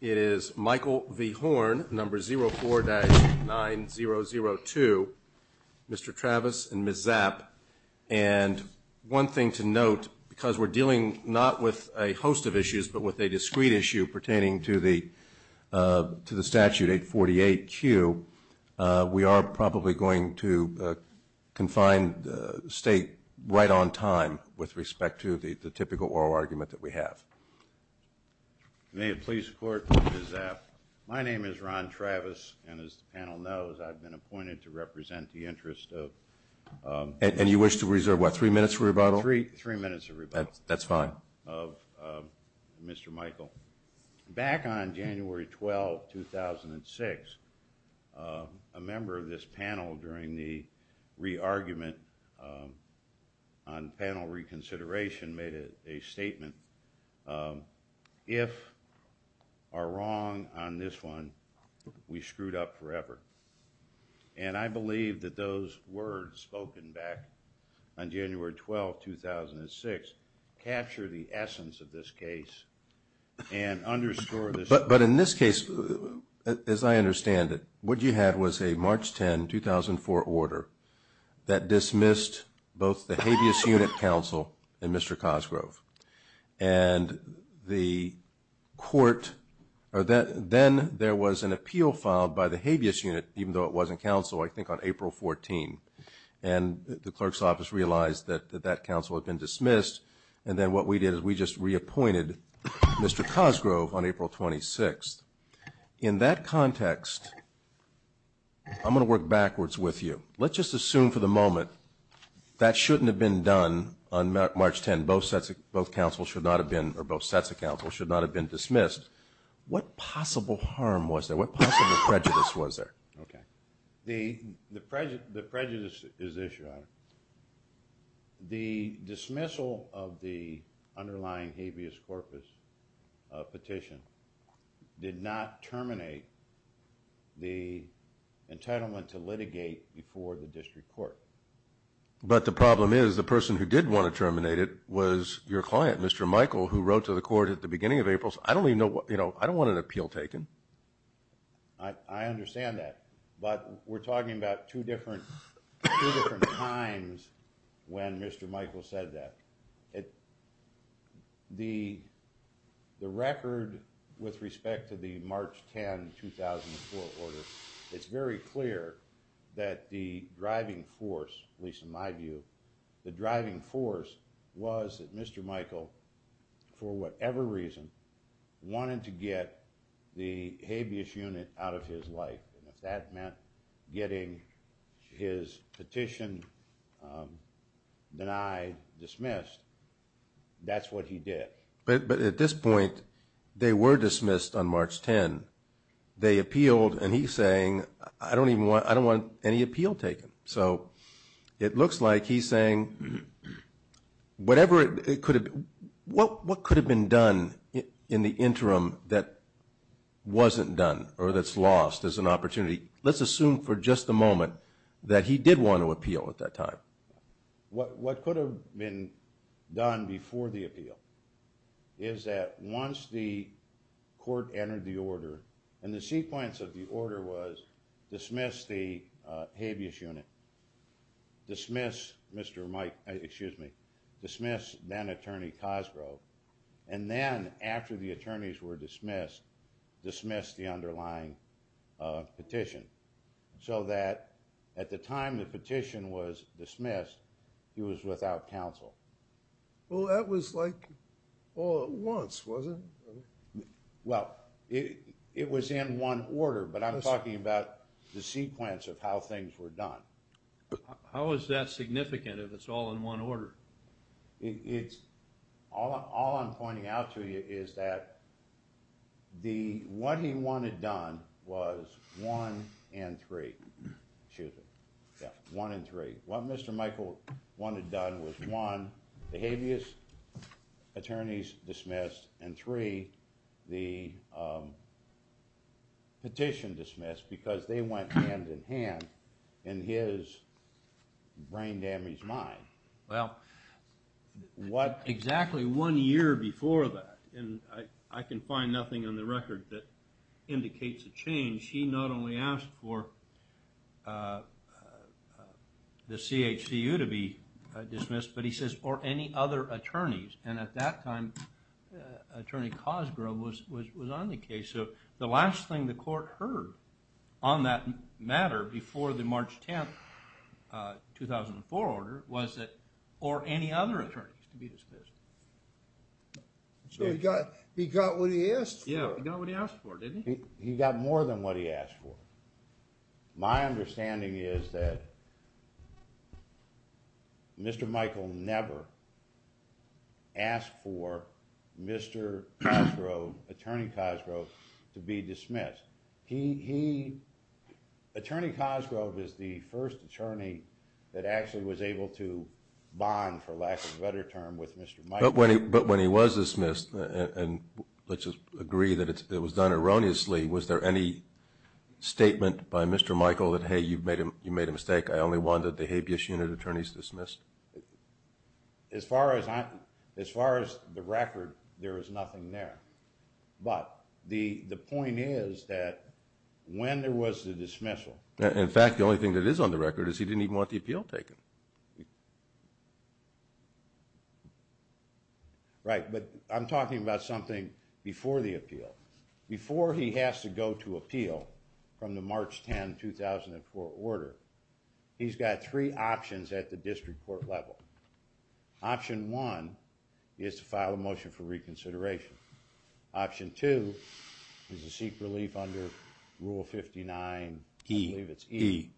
It is Michael V. Horn, number 04-9002. Mr. Travis and Ms. Zapp. And one thing to note, because we're dealing not with a host of issues, but with a discrete issue pertaining to the statute 848Q, we are probably going to confine the State right on time with respect to the typical oral argument that we have. May it please the Court, Ms. Zapp. My name is Ron Travis, and as the panel knows, I've been appointed to represent the interest of And you wish to reserve, what, three minutes for rebuttal? Three minutes of rebuttal. That's fine. Of Mr. Michael. Back on January 12, 2006, a member of this panel during the re-argument on panel reconsideration made a statement, if are wrong on this one, we screwed up forever. And I believe that those words spoken back on January 12, 2006, capture the essence of this case and underscore this. But in this case, as I understand it, what you had was a March 10, 2004 order that dismissed both the habeas unit counsel and Mr. Cosgrove. And the court, or then there was an appeal filed by the habeas unit, even though it wasn't counsel, I think on April 14. And the clerk's office realized that that counsel had been dismissed, and then what we did is we just reappointed Mr. Cosgrove on April 26. In that context, I'm going to work backwards with you. Let's just assume for the moment that shouldn't have been done on March 10. Both sets of counsel should not have been dismissed. What possible harm was there? What possible prejudice was there? Okay. The prejudice is this, Your Honor. The dismissal of the underlying habeas corpus petition did not terminate the entitlement to litigate before the district court. But the problem is the person who did want to terminate it was your client, Mr. Michael, who wrote to the court at the beginning of April. I don't even know what, you know, I don't want an appeal taken. I understand that. But we're talking about two different times when Mr. Michael said that. The record with respect to the March 10, 2004 order, it's very clear that the driving force, at least in my view, the driving force was that Mr. Michael, for whatever reason, wanted to get the habeas unit out of his life. And if that meant getting his petition denied, dismissed, that's what he did. But at this point, they were dismissed on March 10. They appealed, and he's saying, I don't even want, I don't want any appeal taken. So it looks like he's saying whatever it could have, what could have been done in the interim that wasn't done or that's lost as an opportunity, let's assume for just a moment that he did want to appeal at that time. What could have been done before the appeal is that once the court entered the order, and the sequence of the order was dismiss the habeas unit, dismiss Mr. Mike, excuse me, dismiss then-attorney Cosgrove, and then after the attorneys were dismissed, dismiss the underlying petition so that at the time the petition was dismissed, he was without counsel. Well, that was like all at once, wasn't it? Well, it was in one order, but I'm talking about the sequence of how things were done. How is that significant if it's all in one order? It's, all I'm pointing out to you is that the, what he wanted done was one and three, excuse me, yeah, one and three. What Mr. Michael wanted done was one, the habeas attorneys dismissed, and three, the petition dismissed because they went hand in hand in his brain-damaged mind. Well, exactly one year before that, and I can find nothing on the record that indicates a change, he not only asked for the CHCU to be dismissed, but he says, or any other attorneys, and at that time, Attorney Cosgrove was on the case. So the last thing the court heard on that matter before the March 10, 2004 order was that, or any other attorneys to be dismissed. So he got what he asked for. Yeah, he got what he asked for, didn't he? He got more than what he asked for. My understanding is that Mr. Michael never asked for Mr. Cosgrove, Attorney Cosgrove, to be dismissed. He, Attorney Cosgrove is the first attorney that actually was able to bond, for lack of a better term, with Mr. Michael. But when he was dismissed, and let's just agree that it was done erroneously, was there any statement by Mr. Michael that, hey, you made a mistake, I only want the habeas unit attorneys dismissed? As far as the record, there is nothing there. But the point is that when there was the dismissal. In fact, the only thing that is on the record is he didn't even want the appeal taken. Before he has to go to appeal from the March 10, 2004 order, he's got three options at the district court level. Option one is to file a motion for reconsideration. Option two is to seek relief under Rule 59E.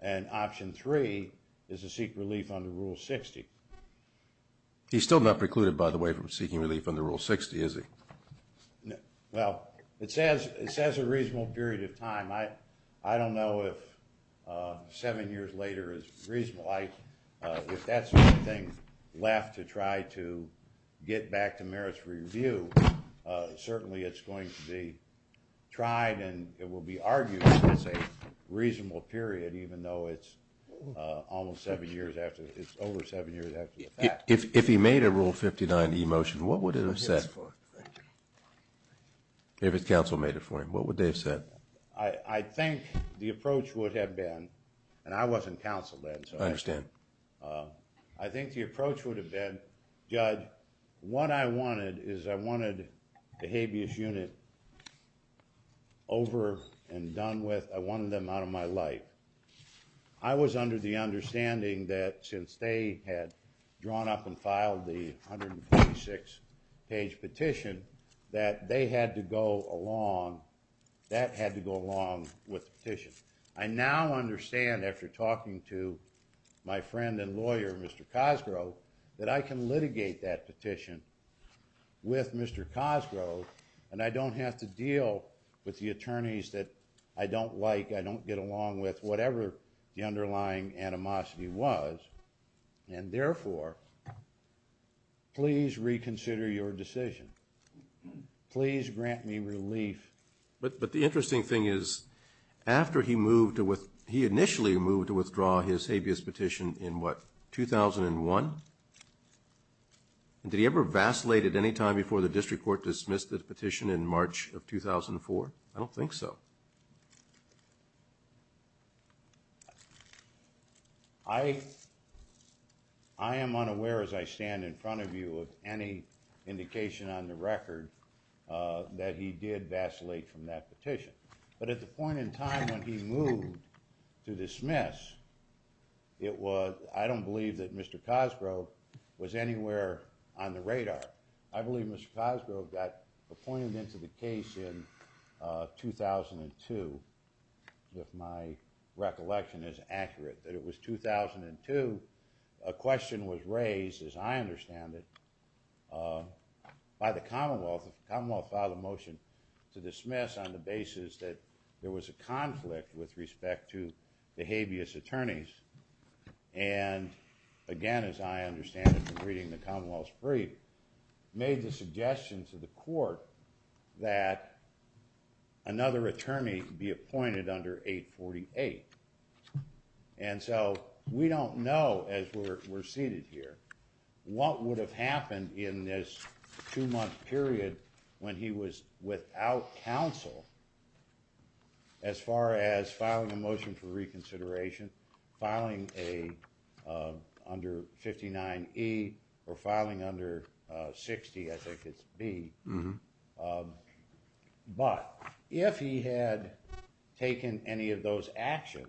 And option three is to seek relief under Rule 60. He's still not precluded, by the way, from seeking relief under Rule 60, is he? Well, it says a reasonable period of time. I don't know if seven years later is reasonable. If that's the only thing left to try to get back to merits review, certainly it's going to be tried and it will be argued that it's a reasonable period, even though it's over seven years after the fact. If he made a Rule 59E motion, what would it have said for him? If his counsel made it for him, what would they have said? I think the approach would have been, and I wasn't counsel then. I understand. I think the approach would have been, Judge, what I wanted is I wanted the habeas unit over and done with. I wanted them out of my life. I was under the understanding that since they had drawn up and filed the 126-page petition, that they had to go along. That had to go along with the petition. I now understand after talking to my friend and lawyer, Mr. Cosgrove, that I can litigate that petition with Mr. Cosgrove and I don't have to deal with the attorneys that I don't like, I don't get along with, whatever the underlying animosity was. And therefore, please reconsider your decision. Please grant me relief. But the interesting thing is, after he initially moved to withdraw his habeas petition in what, 2001? Did he ever vacillate at any time before the district court dismissed the petition in March of 2004? I don't think so. I am unaware as I stand in front of you of any indication on the record that he did vacillate from that petition. But at the point in time when he moved to dismiss, I don't believe that Mr. Cosgrove was anywhere on the radar. I believe Mr. Cosgrove got appointed into the case in 2002, if my recollection is accurate. That it was 2002, a question was raised, as I understand it, by the Commonwealth. The Commonwealth filed a motion to dismiss on the basis that there was a conflict with respect to the habeas attorneys. And again, as I understand it from reading the Commonwealth's brief, made the suggestion to the court that another attorney be appointed under 848. And so we don't know, as we're seated here, what would have happened in this two-month period when he was without counsel as far as filing a motion for reconsideration, filing under 59E or filing under 60, I think it's B. But if he had taken any of those actions,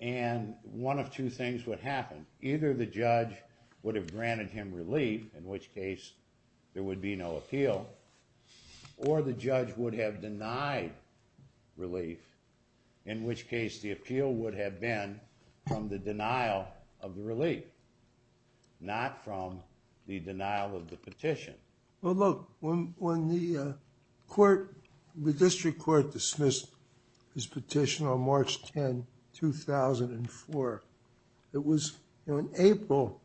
and one of two things would happen. Either the judge would have granted him relief, in which case there would be no appeal, or the judge would have denied relief, in which case the appeal would have been from the denial of the relief, not from the denial of the petition. Well, look, when the court, the district court dismissed his petition on March 10, 2004, it was on April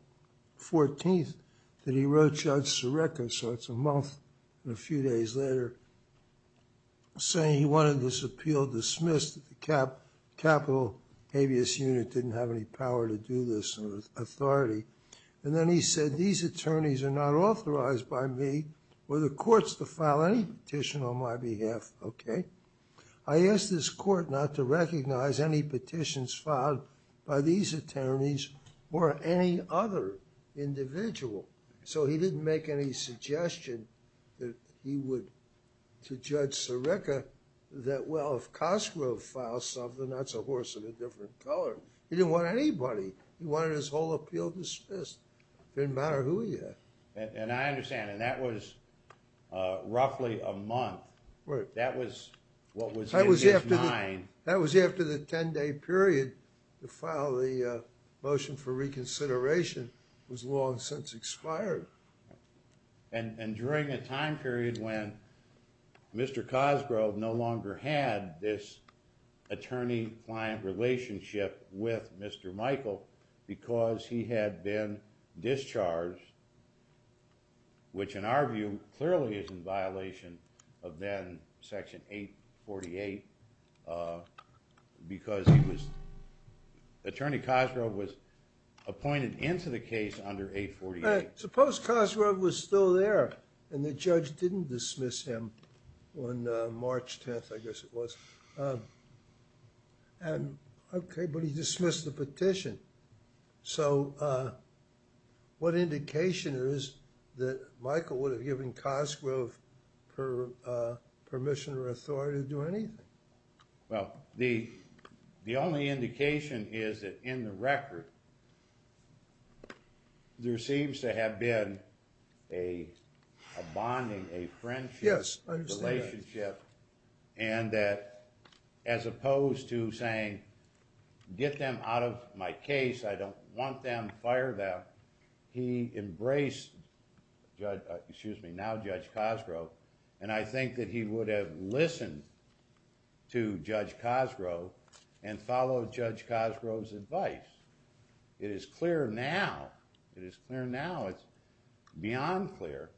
14th that he wrote Judge Sareka, so it's a month and a few days later, saying he wanted this appeal dismissed. The capital habeas unit didn't have any power to do this authority. And then he said, these attorneys are not authorized by me or the courts to file any petition on my behalf, okay? I ask this court not to recognize any petitions filed by these attorneys or any other individual. So he didn't make any suggestion that he would, to Judge Sareka, that, well, if Cosgrove files something, that's a horse of a different color. He didn't want anybody. He wanted his whole appeal dismissed. It didn't matter who he had. And I understand, and that was roughly a month. That was what was in his mind. That was after the 10-day period to file the motion for reconsideration was long since expired. And during a time period when Mr. Cosgrove no longer had this attorney-client relationship with Mr. Michael because he had been discharged, which in our view clearly is in violation of then Section 848, because he was, Attorney Cosgrove was appointed into the case under 848. Suppose Cosgrove was still there and the judge didn't dismiss him on March 10th, I guess it was. Okay, but he dismissed the petition. So what indication is that Michael would have given Cosgrove permission or authority to do anything? Well, the only indication is that in the record there seems to have been a bonding, a friendship relationship. Yes, I understand that. And that as opposed to saying, get them out of my case, I don't want them, fire them. He embraced Judge, excuse me, now Judge Cosgrove, and I think that he would have listened to Judge Cosgrove and followed Judge Cosgrove's advice. It is clear now, it is clear now, it's beyond clear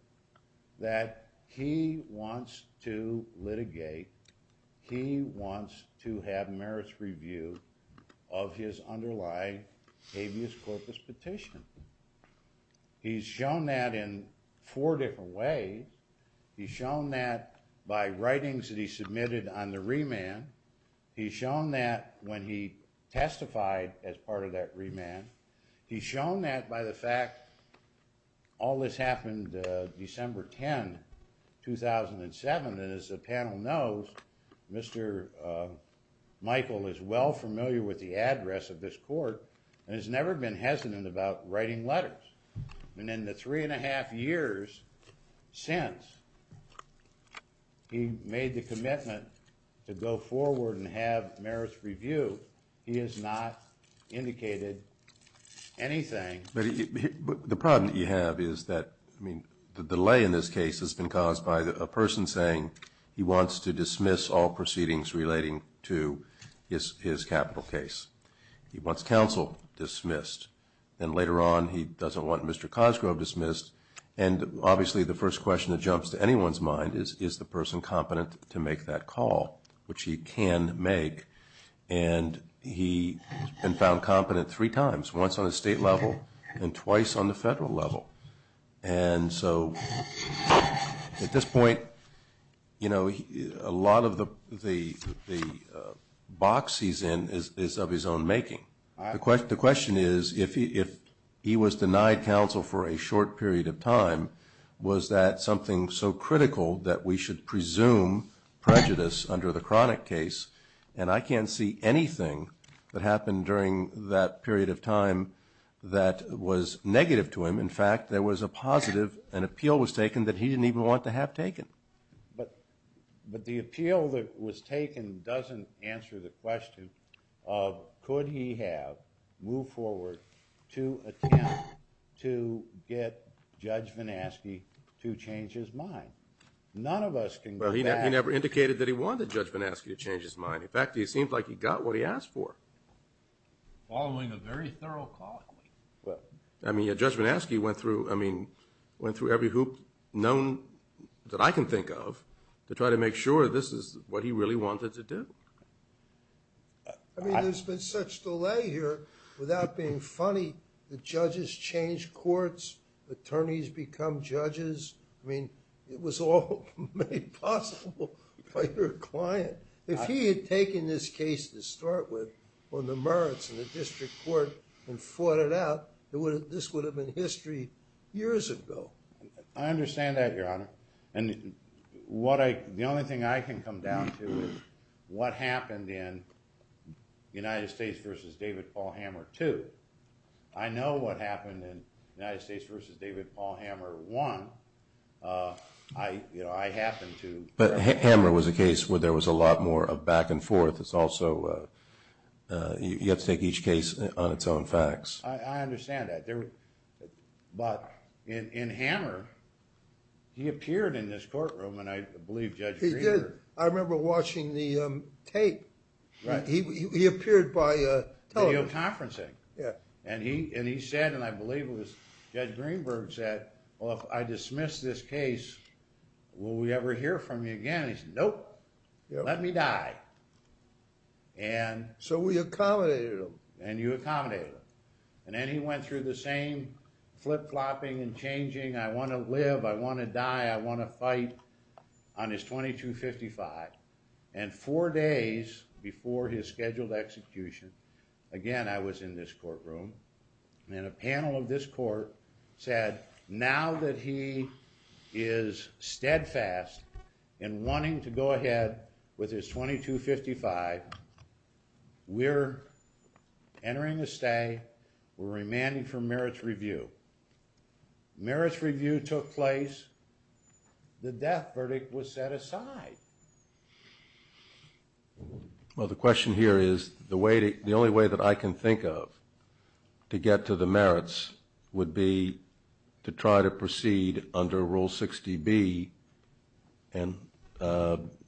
that he wants to litigate, he wants to have merits review of his underlying habeas corpus petition. He's shown that in four different ways. He's shown that by writings that he submitted on the remand. He's shown that when he testified as part of that remand. He's shown that by the fact, all this happened December 10, 2007, and as the panel knows, Mr. Michael is well familiar with the address of this court and has never been hesitant about writing letters. And in the three and a half years since, he made the commitment to go forward and have merits review. He has not indicated anything. But the problem that you have is that, I mean, the delay in this case has been caused by a person saying he wants to dismiss all proceedings relating to his capital case. He wants counsel dismissed. And later on, he doesn't want Mr. Cosgrove dismissed. And obviously the first question that jumps to anyone's mind is, is the person competent to make that call, which he can make. And he has been found competent three times, once on a state level and twice on the federal level. And so at this point, you know, a lot of the box he's in is of his own making. The question is, if he was denied counsel for a short period of time, was that something so critical that we should presume prejudice under the chronic case? And I can't see anything that happened during that period of time that was negative to him. In fact, there was a positive, an appeal was taken, that he didn't even want to have taken. But the appeal that was taken doesn't answer the question of, could he have moved forward to attempt to get Judge Van Aske to change his mind? None of us can go back. Well, he never indicated that he wanted Judge Van Aske to change his mind. In fact, it seems like he got what he asked for. Following a very thorough call. I mean, Judge Van Aske went through, I mean, went through every hoop known that I can think of to try to make sure this is what he really wanted to do. I mean, there's been such delay here, without being funny, the judges change courts, attorneys become judges. I mean, it was all made possible by your client. If he had taken this case to start with, on the merits of the district court, and fought it out, this would have been history years ago. I understand that, Your Honor. And the only thing I can come down to is what happened in United States v. David Paul Hammer II. I know what happened in United States v. David Paul Hammer I. You know, I happened to... But Hammer was a case where there was a lot more of back and forth. It's also, you have to take each case on its own facts. I understand that. But in Hammer, he appeared in this courtroom, and I believe Judge Greenberg... He did. I remember watching the tape. He appeared by television. Video conferencing. And he said, and I believe it was Judge Greenberg said, well, if I dismiss this case, will we ever hear from you again? He said, nope. Let me die. So we accommodated him. And you accommodated him. And then he went through the same flip-flopping and changing, I want to live, I want to die, I want to fight, on his 2255. And four days before his scheduled execution, again, I was in this courtroom, and a panel of this court said, now that he is steadfast in wanting to go ahead with his 2255, we're entering a stay. We're remanding for merits review. Merits review took place. The death verdict was set aside. Well, the question here is, the only way that I can think of to get to the merits would be to try to proceed under Rule 60B and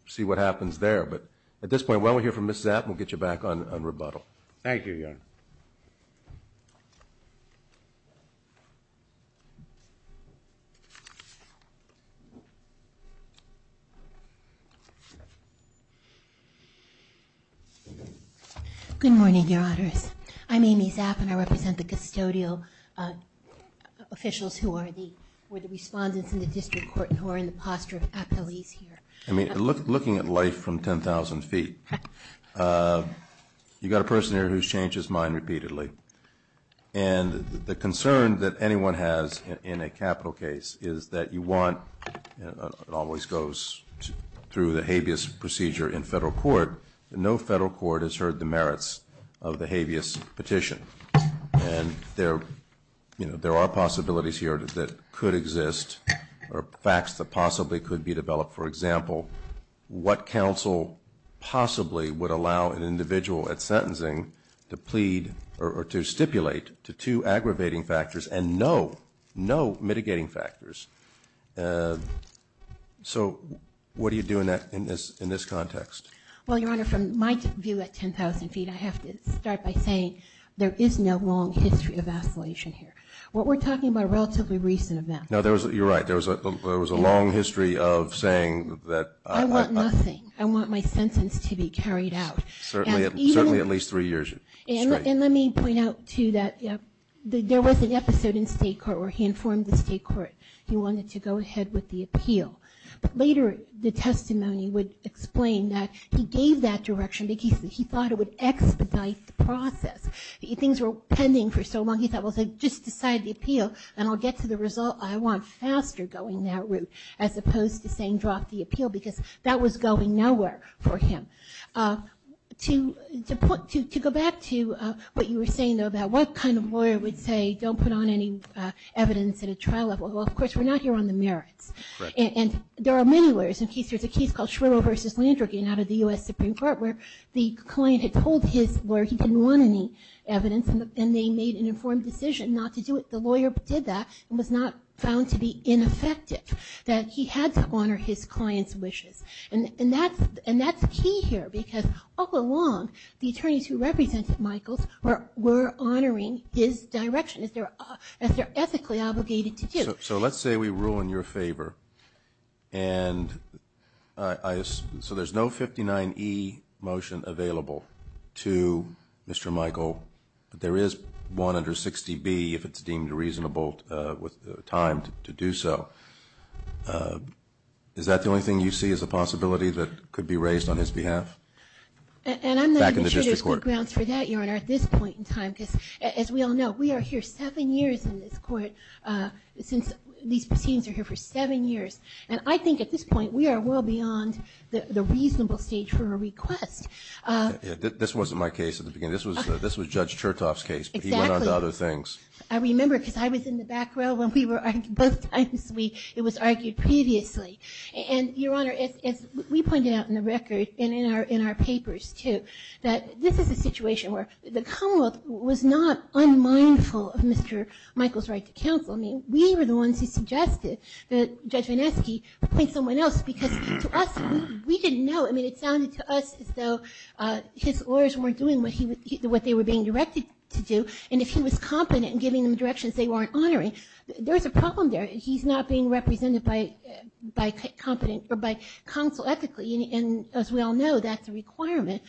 see what happens there. But at this point, while we hear from Ms. Zapp, we'll get you back on rebuttal. Thank you, Your Honor. Good morning, Your Honors. I'm Amy Zapp, and I represent the custodial officials who are the respondents in the district court who are in the posture of appellees here. I mean, looking at life from 10,000 feet, you've got a person here who's changed his mind repeatedly. And the concern that anyone has in a capital case is that you want, and it always goes through the habeas procedure in federal court, no federal court has heard the merits of the habeas petition. And there are possibilities here that could exist, or facts that possibly could be developed. For example, what counsel possibly would allow an individual at sentencing to plead or to stipulate to two aggravating factors and no mitigating factors? So what do you do in this context? Well, Your Honor, from my view at 10,000 feet, I have to start by saying there is no long history of escalation here. What we're talking about are relatively recent events. No, you're right. There was a long history of saying that. I want nothing. I want my sentence to be carried out. Certainly at least three years straight. And let me point out, too, that there was an episode in state court where he informed the state court he wanted to go ahead with the appeal. But later the testimony would explain that he gave that direction because he thought it would expedite the process. If things were pending for so long, he thought, well, just decide the appeal and I'll get to the result. I want faster going that route as opposed to saying drop the appeal because that was going nowhere for him. To go back to what you were saying, though, about what kind of lawyer would say don't put on any evidence at a trial level. Well, of course, we're not here on the merits. And there are many lawyers. There's a case called Shriver v. Landrigan out of the U.S. Supreme Court where the client had told his lawyer he didn't want any evidence, and they made an informed decision not to do it. The lawyer did that and was not found to be ineffective, that he had to honor his client's wishes. And that's key here because all along the attorneys who represented Michaels were honoring his direction as they're ethically obligated to do. So let's say we rule in your favor. And so there's no 59E motion available to Mr. Michael, but there is one under 60B if it's deemed reasonable with time to do so. Is that the only thing you see as a possibility that could be raised on his behalf? And I'm not even sure there's good grounds for that, Your Honor, at this point in time, because as we all know, we are here seven years in this court. These proceedings are here for seven years. And I think at this point we are well beyond the reasonable stage for a request. This wasn't my case at the beginning. This was Judge Chertoff's case, but he went on to other things. Exactly. I remember because I was in the back row when both times it was argued previously. And, Your Honor, as we pointed out in the record and in our papers too, that this is a situation where the Commonwealth was not unmindful of Mr. Michael's right to counsel. I mean, we were the ones who suggested that Judge Vineski appoint someone else because to us, we didn't know. I mean, it sounded to us as though his lawyers weren't doing what they were being directed to do. And if he was competent in giving them directions they weren't honoring, there was a problem there. He's not being represented by counsel ethically, and as we all know, that's a requirement.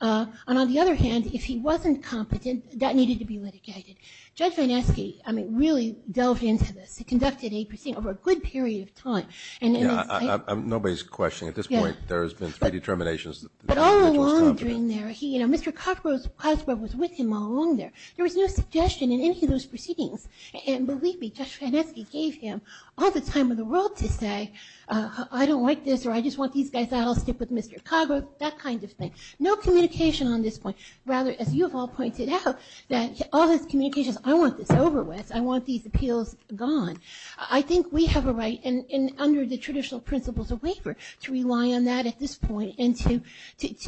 And on the other hand, if he wasn't competent, that needed to be litigated. Judge Vineski, I mean, really delved into this. He conducted a proceeding over a good period of time. Nobody's questioning. At this point, there has been three determinations. But all along during there, you know, Mr. Coggrove's password was with him all along there. There was no suggestion in any of those proceedings. And believe me, Judge Vineski gave him all the time in the world to say, I don't like this or I just want these guys out. I'll stick with Mr. Coggrove, that kind of thing. No communication on this point. Rather, as you have all pointed out, that all his communication is, I want this over with. I want these appeals gone. I think we have a right, and under the traditional principles of waiver, to rely on that at this point and to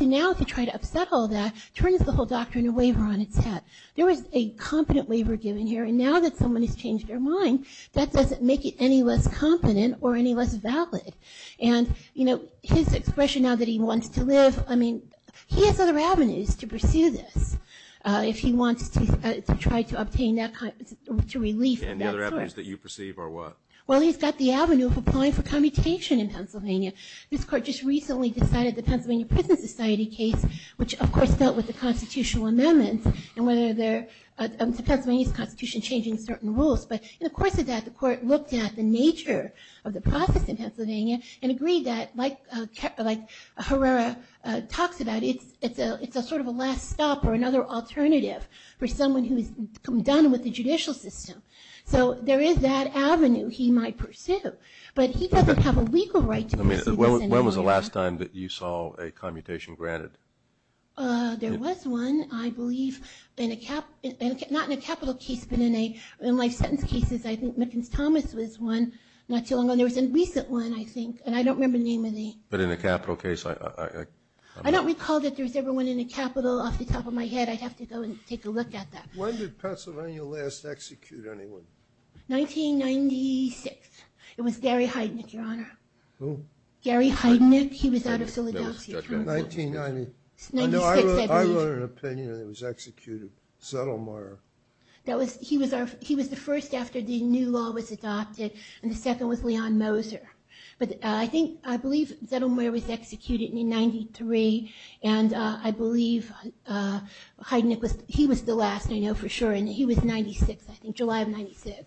now to try to upset all that, turns the whole doctrine of waiver on its head. There was a competent waiver given here, and now that someone has changed their mind, that doesn't make it any less competent or any less valid. And, you know, his expression now that he wants to live, I mean, he has other avenues to pursue this if he wants to try to obtain that kind of relief. And the other avenues that you perceive are what? Well, he's got the avenue of applying for commutation in Pennsylvania. This court just recently decided the Pennsylvania Prison Society case, which, of course, dealt with the constitutional amendments and whether there's a Pennsylvania constitution changing certain rules. But in the course of that, the court looked at the nature of the process in Pennsylvania and agreed that, like Herrera talks about, it's a sort of a last stop or another alternative for someone who's done with the judicial system. So there is that avenue he might pursue. But he doesn't have a legal right to pursue this. When was the last time that you saw a commutation granted? There was one, I believe, not in a capital case, but in life sentence cases. I think Mickens-Thomas was one not too long ago. And there was a recent one, I think, and I don't remember the name of the— But in a capital case, I— I don't recall that there was ever one in a capital off the top of my head. I'd have to go and take a look at that. When did Pennsylvania last execute anyone? 1996. It was Gary Heidnick, Your Honor. Who? Gary Heidnick. He was out of Philadelphia. 1990. It's 1996, I believe. I wrote an opinion that was executed. Zettelmeyer. He was the first after the new law was adopted. And the second was Leon Moser. But I think—I believe Zettelmeyer was executed in 1993. And I believe Heidnick was—he was the last, I know for sure. And he was 96, I think, July of 96.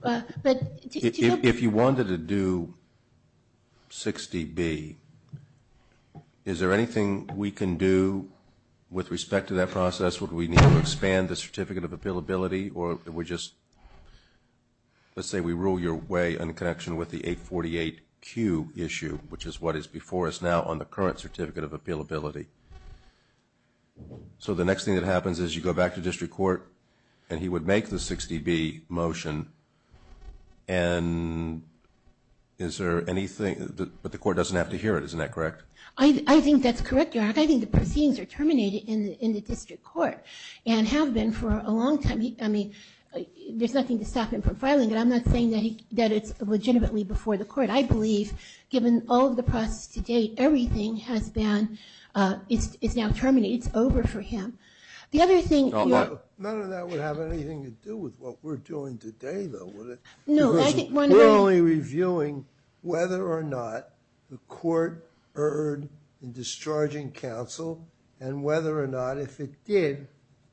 But— If you wanted to do 60B, is there anything we can do with respect to that process? Would we need to expand the Certificate of Appealability, or would we just— let's say we rule your way in connection with the 848Q issue, which is what is before us now on the current Certificate of Appealability. So the next thing that happens is you go back to district court, and he would make the 60B motion. And is there anything—but the court doesn't have to hear it, isn't that correct? I think that's correct, Your Honor. In fact, I think the proceedings are terminated in the district court and have been for a long time. I mean, there's nothing to stop him from filing it. I'm not saying that it's legitimately before the court. I believe, given all of the process to date, everything has been—it's now terminated. It's over for him. The other thing— None of that would have anything to do with what we're doing today, though, would it? No, I think— We're only reviewing whether or not the court erred in discharging counsel and whether or not, if it did,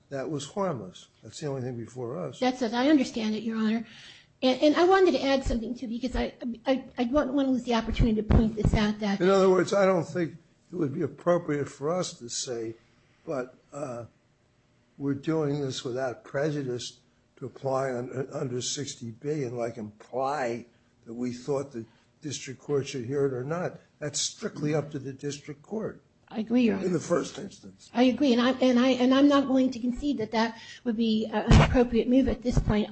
that was harmless. That's the only thing before us. That's it. I understand it, Your Honor. And I wanted to add something, too, because I don't want to lose the opportunity to point this out. In other words, I don't think it would be appropriate for us to say, but we're doing this without prejudice to apply under 60B and, like, imply that we thought the district court should hear it or not. That's strictly up to the district court. I agree, Your Honor. In the first instance. I agree. And I'm not going to concede that that would be an appropriate move at this point.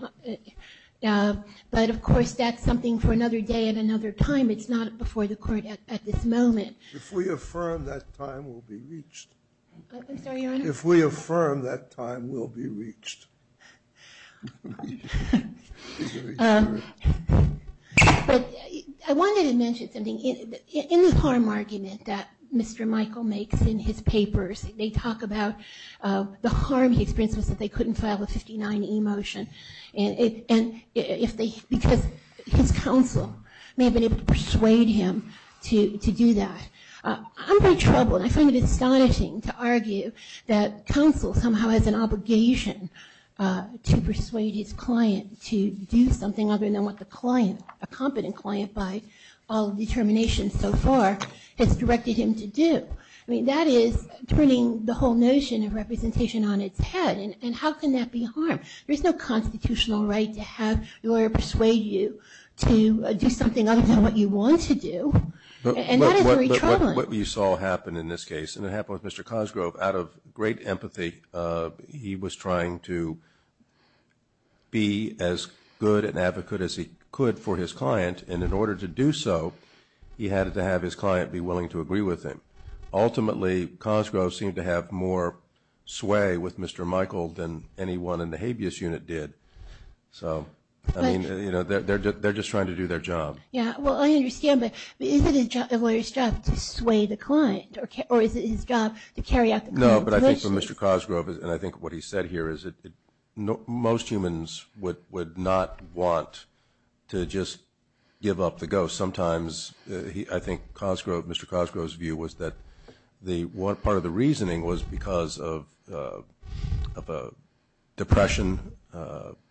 But, of course, that's something for another day and another time. It's not before the court at this moment. If we affirm, that time will be reached. I'm sorry, Your Honor? If we affirm, that time will be reached. I wanted to mention something. In the harm argument that Mr. Michael makes in his papers, they talk about the harm he experienced was that they couldn't file a 59E motion. Because his counsel may have been able to persuade him to do that. I'm in trouble, and I find it astonishing to argue that counsel somehow has an obligation to persuade his client to do something other than what the client, a competent client by all determinations so far, has directed him to do. I mean, that is turning the whole notion of representation on its head. And how can that be harm? There is no constitutional right to have your lawyer persuade you to do something other than what you want to do. And that is very troubling. But what you saw happen in this case, and it happened with Mr. Cosgrove, out of great empathy he was trying to be as good an advocate as he could for his client. And in order to do so, he had to have his client be willing to agree with him. Ultimately, Cosgrove seemed to have more sway with Mr. Michael than anyone in the habeas unit did. So, I mean, they're just trying to do their job. Yeah, well, I understand, but is it a lawyer's job to sway the client? Or is it his job to carry out the client's motions? No, but I think for Mr. Cosgrove, and I think what he said here, is that most humans would not want to just give up the ghost. I think Mr. Cosgrove's view was that part of the reasoning was because of depression,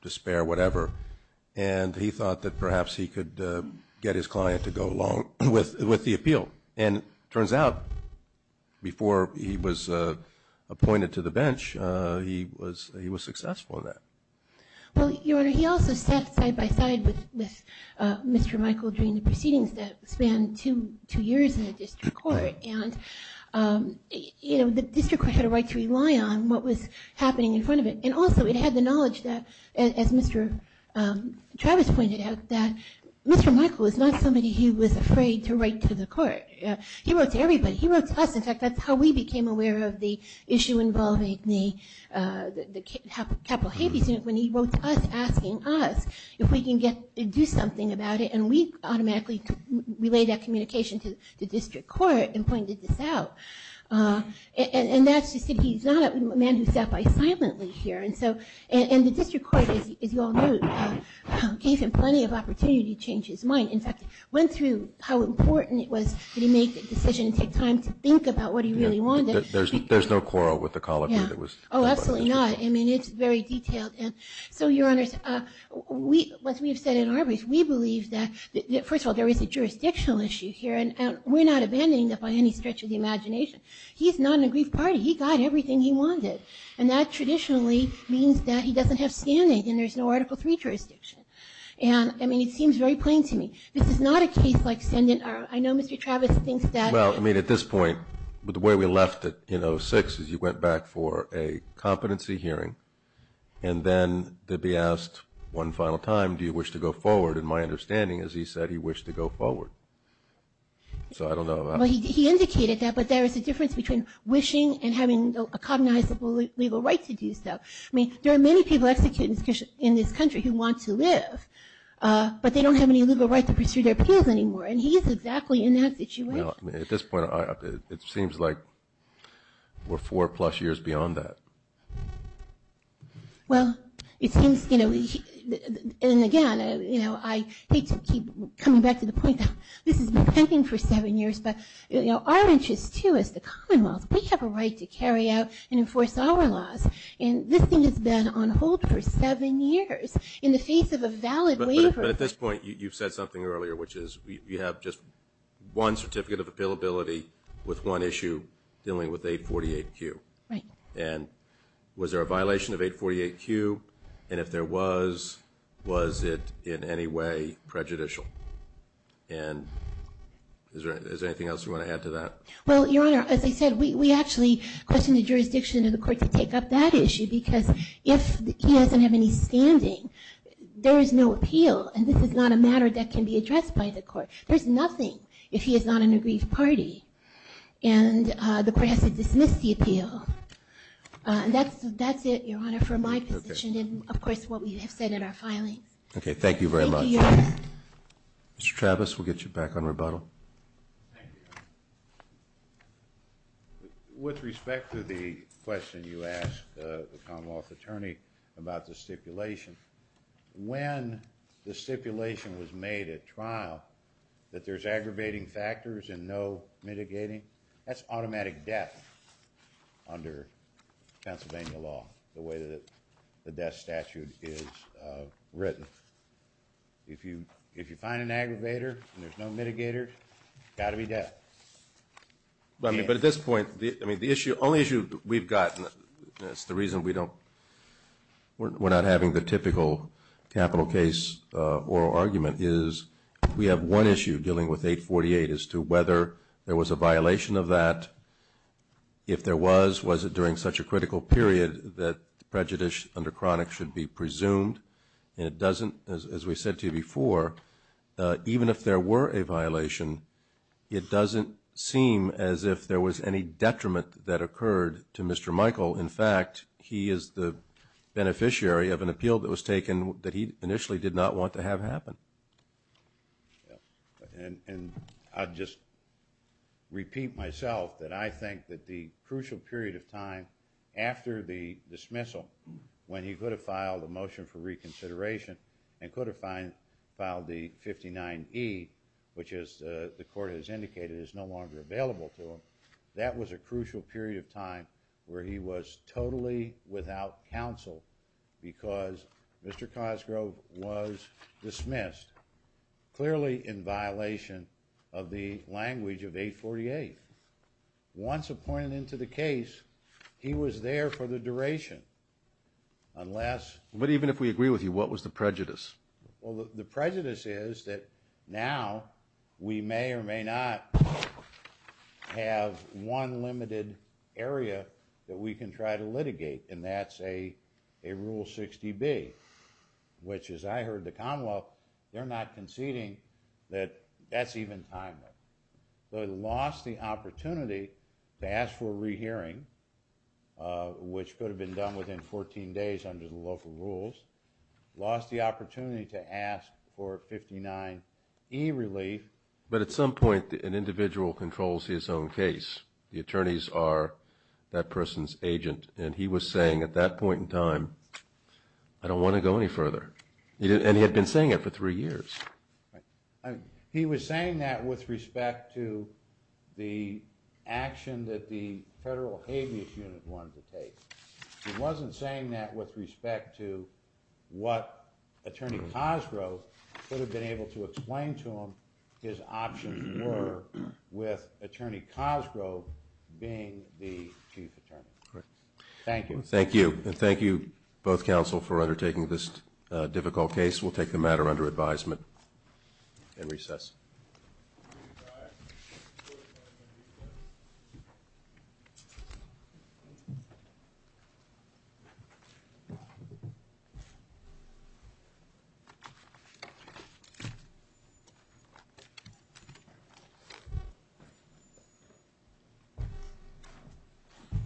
despair, whatever, and he thought that perhaps he could get his client to go along with the appeal. And it turns out, before he was appointed to the bench, he was successful in that. Well, Your Honor, he also sat side by side with Mr. Michael during the proceedings that spanned two years in the district court. And the district court had a right to rely on what was happening in front of it. And also, it had the knowledge that, as Mr. Travis pointed out, that Mr. Michael was not somebody who was afraid to write to the court. He wrote to everybody. He wrote to us. In fact, that's how we became aware of the issue involving the Capital Habeas Unit, when he wrote to us asking us if we can do something about it. And we automatically relayed that communication to the district court and pointed this out. And that's to say he's not a man who sat by silently here. And the district court, as you all know, gave him plenty of opportunity to change his mind. In fact, went through how important it was that he make a decision and take time to think about what he really wanted. There's no quarrel with the colleague that was here. Oh, absolutely not. I mean, it's very detailed. And so, Your Honors, as we have said in our briefs, we believe that, first of all, there is a jurisdictional issue here. And we're not abandoning that by any stretch of the imagination. He's not an aggrieved party. He got everything he wanted. And that traditionally means that he doesn't have standing and there's no Article III jurisdiction. And, I mean, it seems very plain to me. This is not a case like Sen. I know Mr. Travis thinks that. Well, I mean, at this point, the way we left it in 2006 is you went back for a competency hearing and then to be asked one final time, do you wish to go forward? And my understanding is he said he wished to go forward. So I don't know. Well, he indicated that. But there is a difference between wishing and having a cognizable legal right to do so. I mean, there are many people executed in this country who want to live, but they don't have any legal right to pursue their appeals anymore. And he is exactly in that situation. Well, at this point, it seems like we're four-plus years beyond that. Well, it seems, you know, and again, you know, I hate to keep coming back to the point that this has been pending for seven years, but, you know, our interest, too, as the Commonwealth, we have a right to carry out and enforce our laws. And this thing has been on hold for seven years in the face of a valid waiver. But at this point, you've said something earlier, which is you have just one certificate of appealability with one issue dealing with 848Q. Right. And was there a violation of 848Q? And if there was, was it in any way prejudicial? And is there anything else you want to add to that? Well, Your Honor, as I said, we actually questioned the jurisdiction of the court to take up that issue because if he doesn't have any standing, there is no appeal, and this is not a matter that can be addressed by the court. There's nothing if he is not an aggrieved party. And the court has to dismiss the appeal. And that's it, Your Honor, for my position and, of course, what we have said in our filings. Okay, thank you very much. Thank you, Your Honor. Mr. Travis, we'll get you back on rebuttal. Thank you, Your Honor. With respect to the question you asked the Commonwealth attorney about the stipulation, when the stipulation was made at trial that there's aggravating factors and no mitigating, that's automatic death under Pennsylvania law, the way that the death statute is written. If you find an aggravator and there's no mitigator, it's got to be death. But at this point, I mean, the only issue we've got, and that's the reason we're not having the typical capital case oral argument, is we have one issue dealing with 848 as to whether there was a violation of that. If there was, was it during such a critical period that prejudice under chronic should be presumed? And it doesn't, as we said to you before, even if there were a violation, it doesn't seem as if there was any detriment that occurred to Mr. Michael. In fact, he is the beneficiary of an appeal that was taken that he initially did not want to have happen. And I'll just repeat myself that I think that the crucial period of time after the dismissal, when he could have filed a motion for reconsideration and could have filed the 59E, which as the court has indicated is no longer available to him, that was a crucial period of time where he was totally without counsel because Mr. Cosgrove was dismissed, clearly in violation of the language of 848. Once appointed into the case, he was there for the duration, unless... But even if we agree with you, what was the prejudice? Well, the prejudice is that now we may or may not have one limited area that we can try to litigate, and that's a Rule 60B, which as I heard the Commonwealth, they're not conceding that that's even timely. So they lost the opportunity to ask for a rehearing, which could have been done within 14 days under the local rules, lost the opportunity to ask for 59E relief. But at some point, an individual controls his own case. The attorneys are that person's agent, and he was saying at that point in time, I don't want to go any further. And he had been saying it for three years. He was saying that with respect to the action that the Federal Habeas Unit wanted to take. He wasn't saying that with respect to what Attorney Cosgrove could have been able to explain to him his options were with Attorney Cosgrove being the Chief Attorney. Thank you. Thank you. And thank you, both counsel, for undertaking this difficult case. We'll take the matter under advisement and recess.